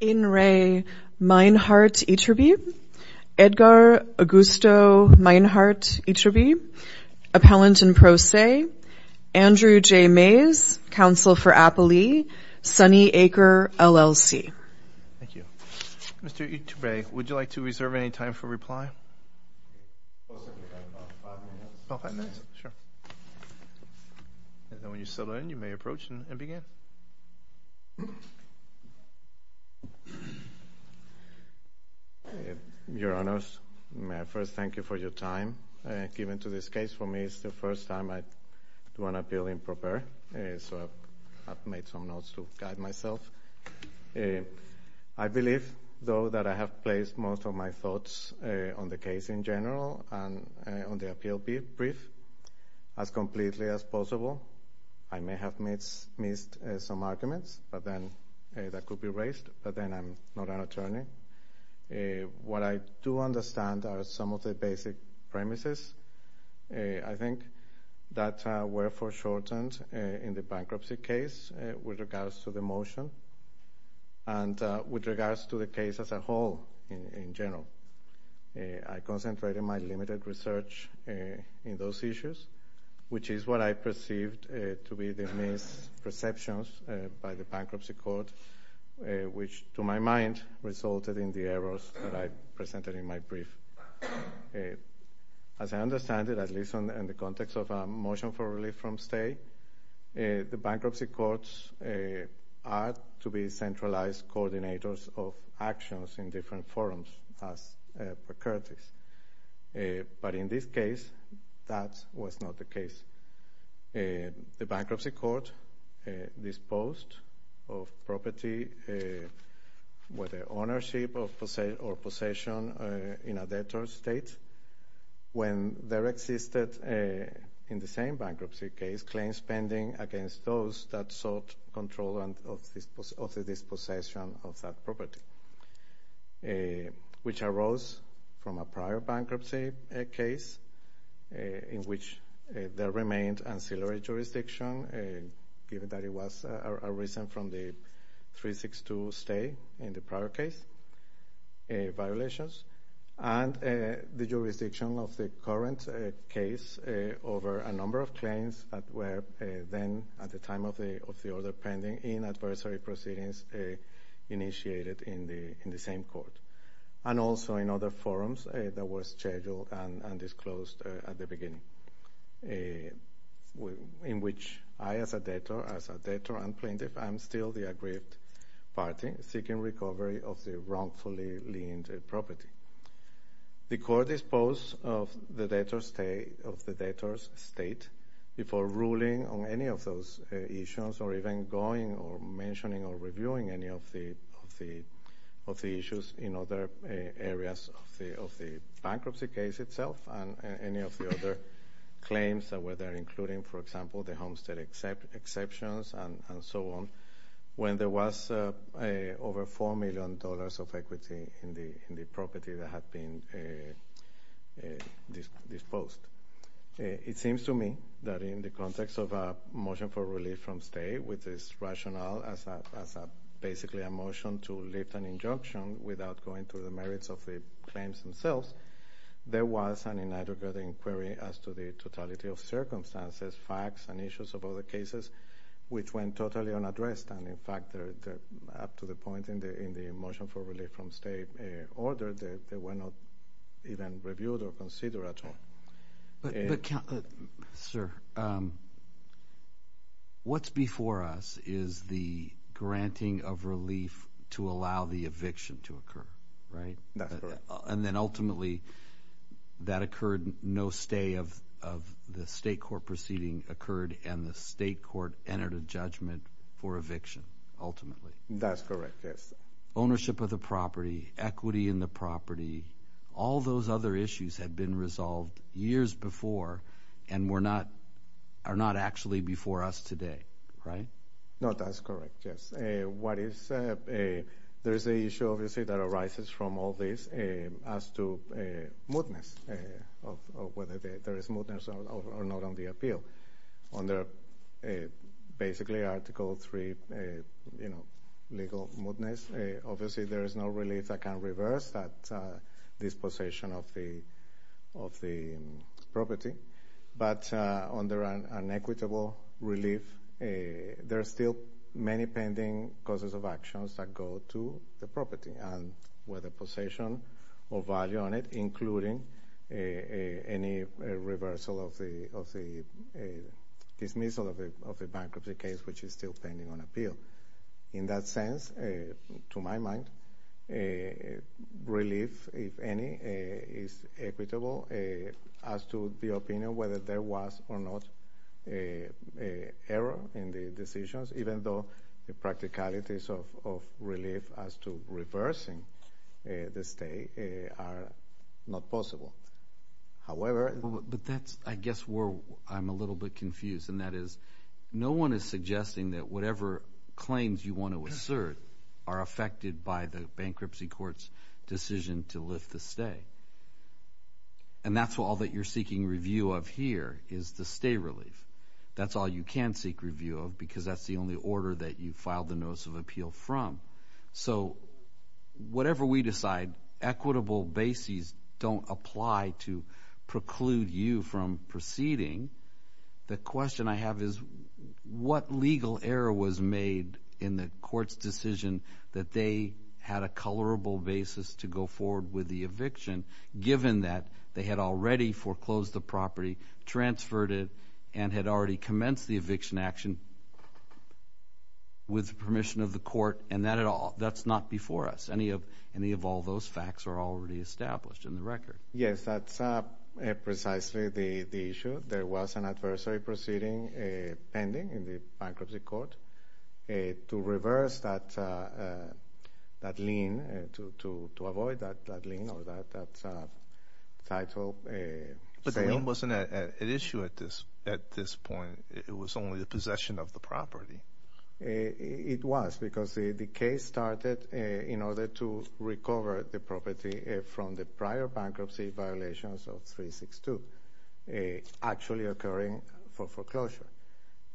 In re. Meinhardt Iturbe, Edgar Augusto Meinhardt Iturbe, Appellant in Pro Se, Andrew J. Mays, Counsel for Appalee, Sunny Acre, LLC. Thank you. Mr. Iturbe, would you like to reserve any time for reply? Five minutes. Oh, five minutes? Sure. And then when you settle in, you may approach and begin. Your Honors, may I first thank you for your time given to this case? For me, it's the first time I do an appeal in proper, so I've made some notes to guide myself. I believe, though, that I have placed most of my thoughts on the case in general and on the appeal brief. As completely as possible, I may have missed some arguments that could be raised, but then I'm not an attorney. What I do understand are some of the basic premises. I think that were foreshortened in the bankruptcy case with regards to the motion and with regards to the case as a whole in general. I concentrated my limited research in those issues, which is what I perceived to be the misperceptions by the bankruptcy court, which, to my mind, resulted in the errors that I presented in my brief. As I understand it, at least in the context of a motion for relief from stay, the bankruptcy courts are to be centralized coordinators of actions in different forums as precursors. But in this case, that was not the case. The bankruptcy court disposed of property with the ownership or possession in a debtor state when there existed, in the same bankruptcy case, claims pending against those that sought control of the dispossession of that property, which arose from a prior bankruptcy case in which there remained ancillary jurisdiction, given that it was a reason from the 362 stay in the prior case violations. And the jurisdiction of the current case over a number of claims that were then, at the time of the order pending, in adversary proceedings initiated in the same court. And also in other forums that were scheduled and disclosed at the beginning, in which I, as a debtor, as a debtor and plaintiff, I'm still the aggrieved party seeking recovery of the wrongfully liened property. The court disposed of the debtor's state before ruling on any of those issues or even going or mentioning or reviewing any of the issues in other areas of the bankruptcy case itself and any of the other claims that were there, including, for example, the homestead exceptions and so on, when there was over $4 million of equity in the property that had been disposed. It seems to me that in the context of a motion for relief from stay with this rationale as basically a motion to lift an injunction without going to the merits of the claims themselves, there was an inadequate inquiry as to the totality of circumstances, facts, and issues of other cases which went totally unaddressed. And, in fact, up to the point in the motion for relief from stay order, they were not even reviewed or considered at all. But, sir, what's before us is the granting of relief to allow the eviction to occur, right? That's correct. And then, ultimately, that occurred. No stay of the state court proceeding occurred, and the state court entered a judgment for eviction, ultimately. That's correct, yes. Ownership of the property, equity in the property, all those other issues had been resolved years before and are not actually before us today, right? No, that's correct, yes. There is an issue, obviously, that arises from all this as to mootness, whether there is mootness or not on the appeal. Under basically Article III legal mootness, obviously there is no relief that can reverse this possession of the property. But under an equitable relief, there are still many pending causes of actions that go to the property and whether possession of value on it, including any reversal of the dismissal of a bankruptcy case, which is still pending on appeal. In that sense, to my mind, relief, if any, is equitable. As to the opinion whether there was or not error in the decisions, even though the practicalities of relief as to reversing the stay are not possible. However— But that's, I guess, where I'm a little bit confused, and that is no one is suggesting that whatever claims you want to assert are affected by the bankruptcy court's decision to lift the stay. And that's all that you're seeking review of here is the stay relief. That's all you can seek review of because that's the only order that you filed the notice of appeal from. So whatever we decide, equitable bases don't apply to preclude you from proceeding. The question I have is what legal error was made in the court's decision that they had a colorable basis to go forward with the eviction, given that they had already foreclosed the property, transferred it, and had already commenced the eviction action with permission of the court, and that's not before us. Any of all those facts are already established in the record. Yes, that's precisely the issue. There was an adversary proceeding pending in the bankruptcy court to reverse that lien, to avoid that lien or that title sale. But the lien wasn't at issue at this point. It was only the possession of the property. It was because the case started in order to recover the property from the prior bankruptcy violations of 362 actually occurring for foreclosure.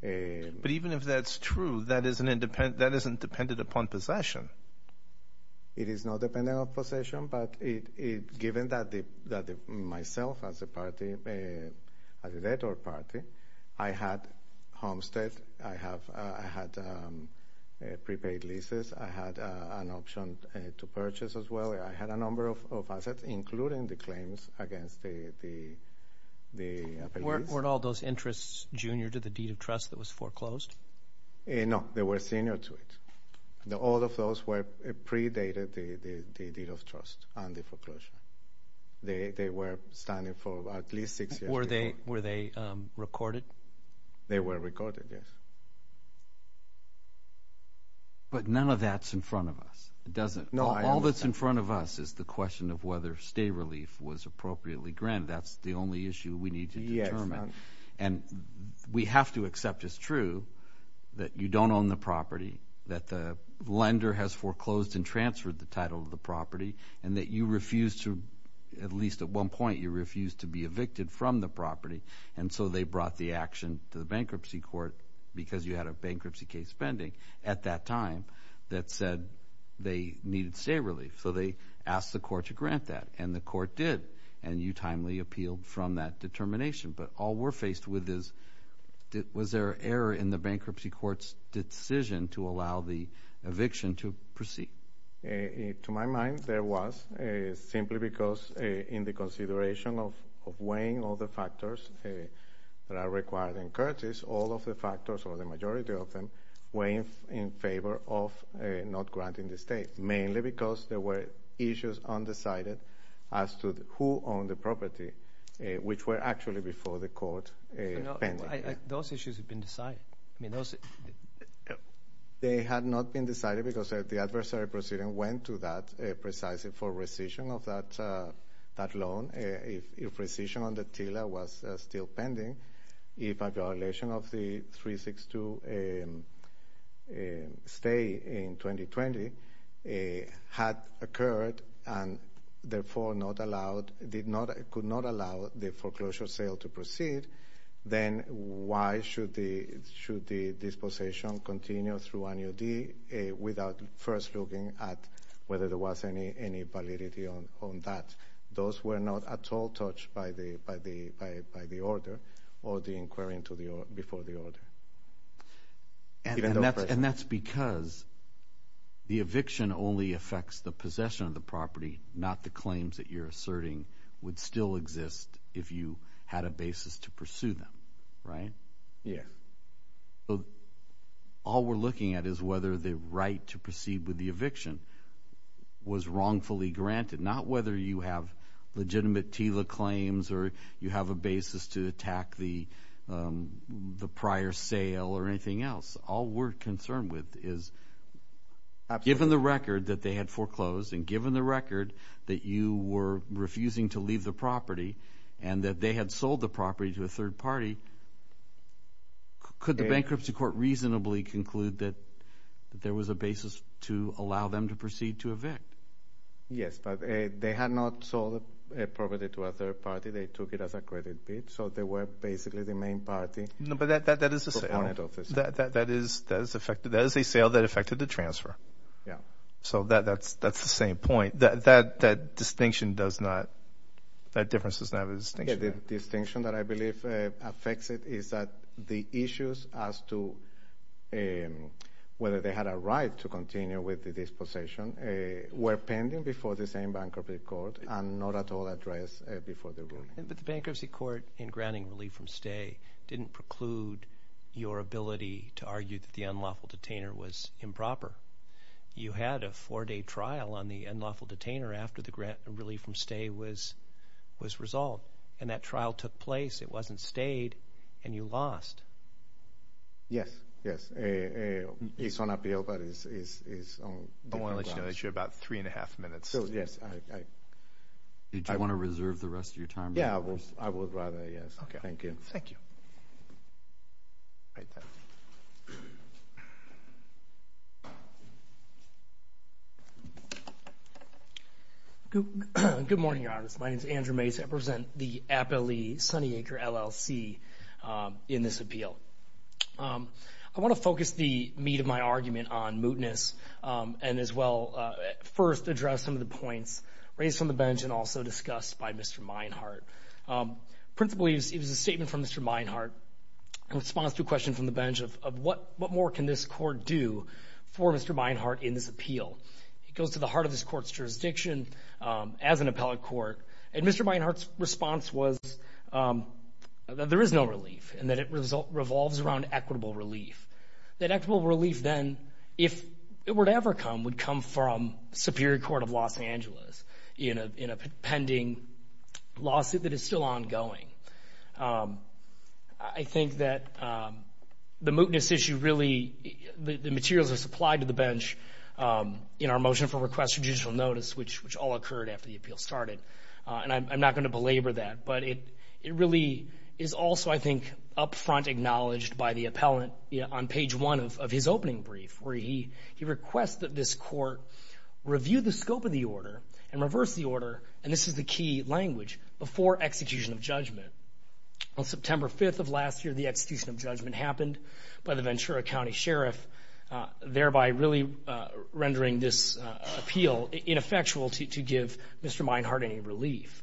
But even if that's true, that isn't dependent upon possession. It is not dependent on possession, but given that myself as a party, as a debtor party, I had homestead, I had prepaid leases, I had an option to purchase as well, I had a number of assets, including the claims against the appellees. Weren't all those interests junior to the deed of trust that was foreclosed? No, they were senior to it. All of those were predated the deed of trust and the foreclosure. They were standing for at least six years. Were they recorded? They were recorded, yes. But none of that's in front of us. It doesn't. All that's in front of us is the question of whether stay relief was appropriately granted. That's the only issue we need to determine. And we have to accept it's true that you don't own the property, that the lender has foreclosed and transferred the title of the property, and that you refused to, at least at one point, you refused to be evicted from the property. And so they brought the action to the bankruptcy court because you had a bankruptcy case pending at that time that said they needed stay relief. So they asked the court to grant that, and the court did, and you timely appealed from that determination. But all we're faced with is was there error in the bankruptcy court's decision to allow the eviction to proceed? To my mind, there was, simply because in the consideration of weighing all the factors that are required in Curtis, all of the factors or the majority of them were in favor of not granting the stay, mainly because there were issues undecided as to who owned the property, which were actually before the court pending. Those issues have been decided. They had not been decided because the adversary proceeding went to that precisely for rescission of that loan. If rescission on the TILA was still pending, if a violation of the 362 stay in 2020 had occurred and therefore could not allow the foreclosure sale to proceed, then why should the dispossession continue through an UD without first looking at whether there was any validity on that? Those were not at all touched by the order or the inquiry before the order. And that's because the eviction only affects the possession of the property, not the claims that you're asserting would still exist if you had a basis to pursue them, right? Yes. So all we're looking at is whether the right to proceed with the eviction was wrongfully granted, not whether you have legitimate TILA claims or you have a basis to attack the prior sale or anything else. All we're concerned with is given the record that they had foreclosed and given the record that you were refusing to leave the property and that they had sold the property to a third party, could the bankruptcy court reasonably conclude that there was a basis to allow them to proceed to evict? Yes, but they had not sold the property to a third party. They took it as a credit bid, so they were basically the main party. No, but that is a sale that affected the transfer. Yeah. So that's the same point. That distinction does not – that difference does not have a distinction. The distinction that I believe affects it is that the issues as to whether they had a right to continue with the dispossession were pending before the same bankruptcy court and not at all addressed before the rule. But the bankruptcy court in granting relief from stay didn't preclude your ability to argue that the unlawful detainer was improper. You had a four-day trial on the unlawful detainer after the relief from stay was resolved, and that trial took place. It wasn't stayed, and you lost. Yes, yes. I want to let you know that you have about three and a half minutes. Do you want to reserve the rest of your time? Yeah, I would rather, yes. Okay. Thank you. Thank you. Good morning, Your Honor. My name is Andrew Mays. I represent the Appalachee Sunnyacre LLC in this appeal. I want to focus the meat of my argument on mootness and as well first address some of the points raised from the bench and also discussed by Mr. Meinhart. Principally, it was a statement from Mr. Meinhart in response to a question from the bench of what more can this court do for Mr. Meinhart in this appeal. It goes to the heart of this court's jurisdiction as an appellate court, and Mr. Meinhart's response was that there is no relief and that it revolves around equitable relief. That equitable relief then, if it were to ever come, would come from Superior Court of Los Angeles in a pending lawsuit that is still ongoing. I think that the mootness issue really, the materials are supplied to the bench in our motion for request for judicial notice, which all occurred after the appeal started, and I'm not going to belabor that. But it really is also, I think, up front acknowledged by the appellant on page one of his opening brief, where he requests that this court review the scope of the order and reverse the order, and this is the key language, before execution of judgment. On September 5th of last year, the execution of judgment happened by the Ventura County Sheriff, thereby really rendering this appeal ineffectual to give Mr. Meinhart any relief.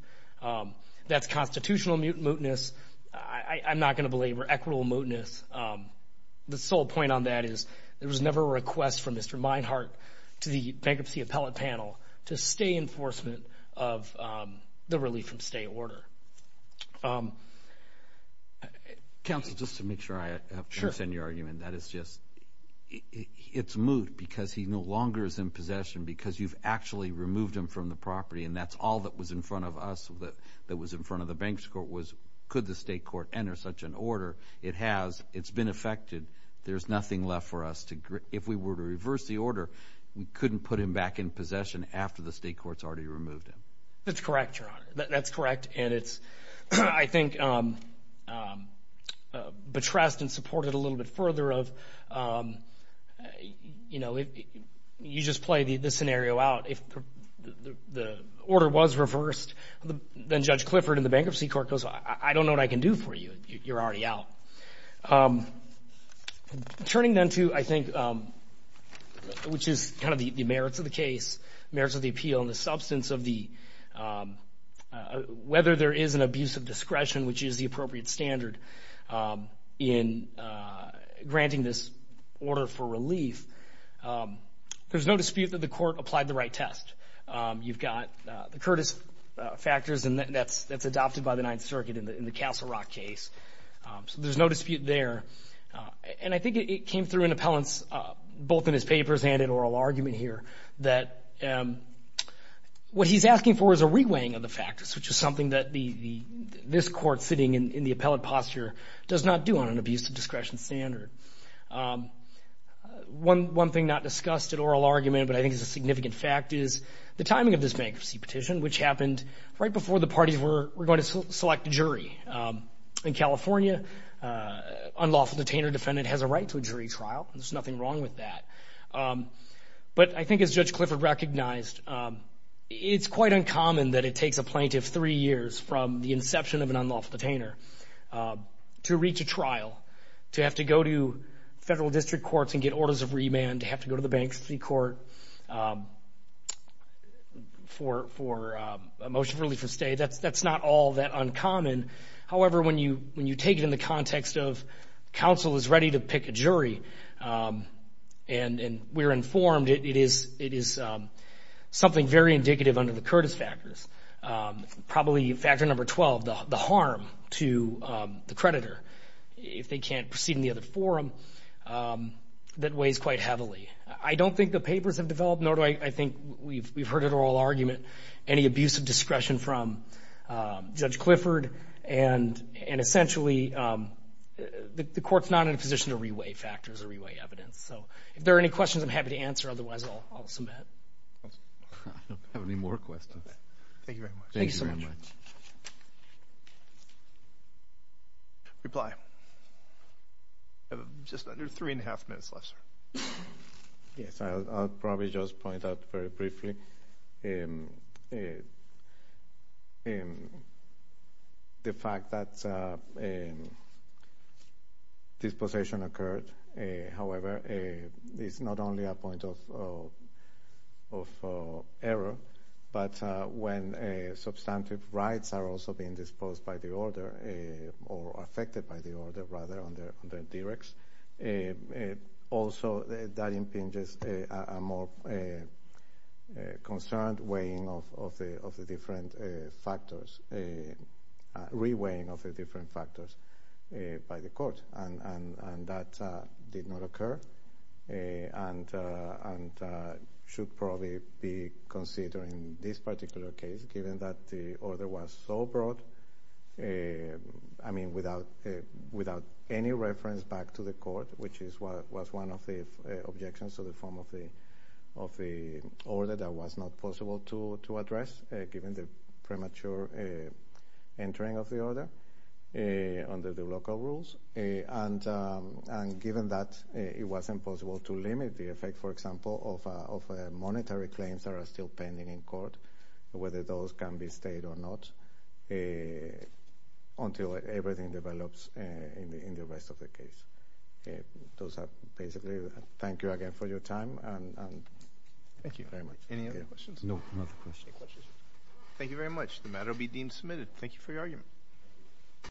That's constitutional mootness. I'm not going to belabor equitable mootness. The sole point on that is there was never a request from Mr. Meinhart to the bankruptcy appellate panel to stay in enforcement of the relief from stay order. Counsel, just to make sure I understand your argument, that is just, it's moot because he no longer is in possession because you've actually removed him from the property, and that's all that was in front of us, that was in front of the bankruptcy court, was could the state court enter such an order. It has. It's been effected. There's nothing left for us to, if we were to reverse the order, we couldn't put him back in possession after the state court's already removed him. That's correct, Your Honor. That's correct. And it's, I think, betrothed and supported a little bit further of, you know, you just play the scenario out. If the order was reversed, then Judge Clifford in the bankruptcy court goes, I don't know what I can do for you. You're already out. Turning then to, I think, which is kind of the merits of the case, merits of the appeal and the substance of the, whether there is an abuse of discretion, which is the appropriate standard in granting this order for relief, there's no dispute that the court applied the right test. You've got the Curtis factors, and that's adopted by the Ninth Circuit in the Castle Rock case. So there's no dispute there. And I think it came through in appellants, both in his papers and in oral argument here, that what he's asking for is a reweighing of the factors, which is something that this court sitting in the appellate posture does not do on an abuse of discretion standard. One thing not discussed in oral argument, but I think is a significant fact, is the timing of this bankruptcy petition, which happened right before the parties were going to select a jury. In California, an unlawful detainer defendant has a right to a jury trial. There's nothing wrong with that. But I think as Judge Clifford recognized, it's quite uncommon that it takes a plaintiff three years from the inception of an unlawful detainer to reach a trial, to have to go to federal district courts and get orders of remand, to have to go to the bankruptcy court for a motion of relief or stay. That's not all that uncommon. However, when you take it in the context of counsel is ready to pick a jury and we're informed it is something very indicative under the Curtis factors. Probably factor number 12, the harm to the creditor if they can't proceed in the other forum, that weighs quite heavily. I don't think the papers have developed, nor do I think we've heard in oral argument, any abuse of discretion from Judge Clifford. Essentially, the court's not in a position to re-weigh factors or re-weigh evidence. If there are any questions, I'm happy to answer. Otherwise, I'll submit. I don't have any more questions. Thank you very much. Thank you so much. Reply. Just under three and a half minutes left, sir. Yes, I'll probably just point out very briefly. The fact that dispossession occurred, however, is not only a point of error, but when substantive rights are also being disposed by the order or affected by the order rather on the directs. Also, that impinges a more concerned weighing of the different factors, re-weighing of the different factors by the court. That did not occur and should probably be considered in this particular case given that the order was so broad, I mean, without any reference back to the court, which was one of the objections to the form of the order that was not possible to address given the premature entering of the order under the local rules. Given that, it was impossible to limit the effect, for example, whether those can be stayed or not until everything develops in the rest of the case. Those are basically. Thank you again for your time. Thank you very much. Any other questions? No, not a question. Any questions? Thank you very much. The matter will be deemed submitted. Thank you for your argument.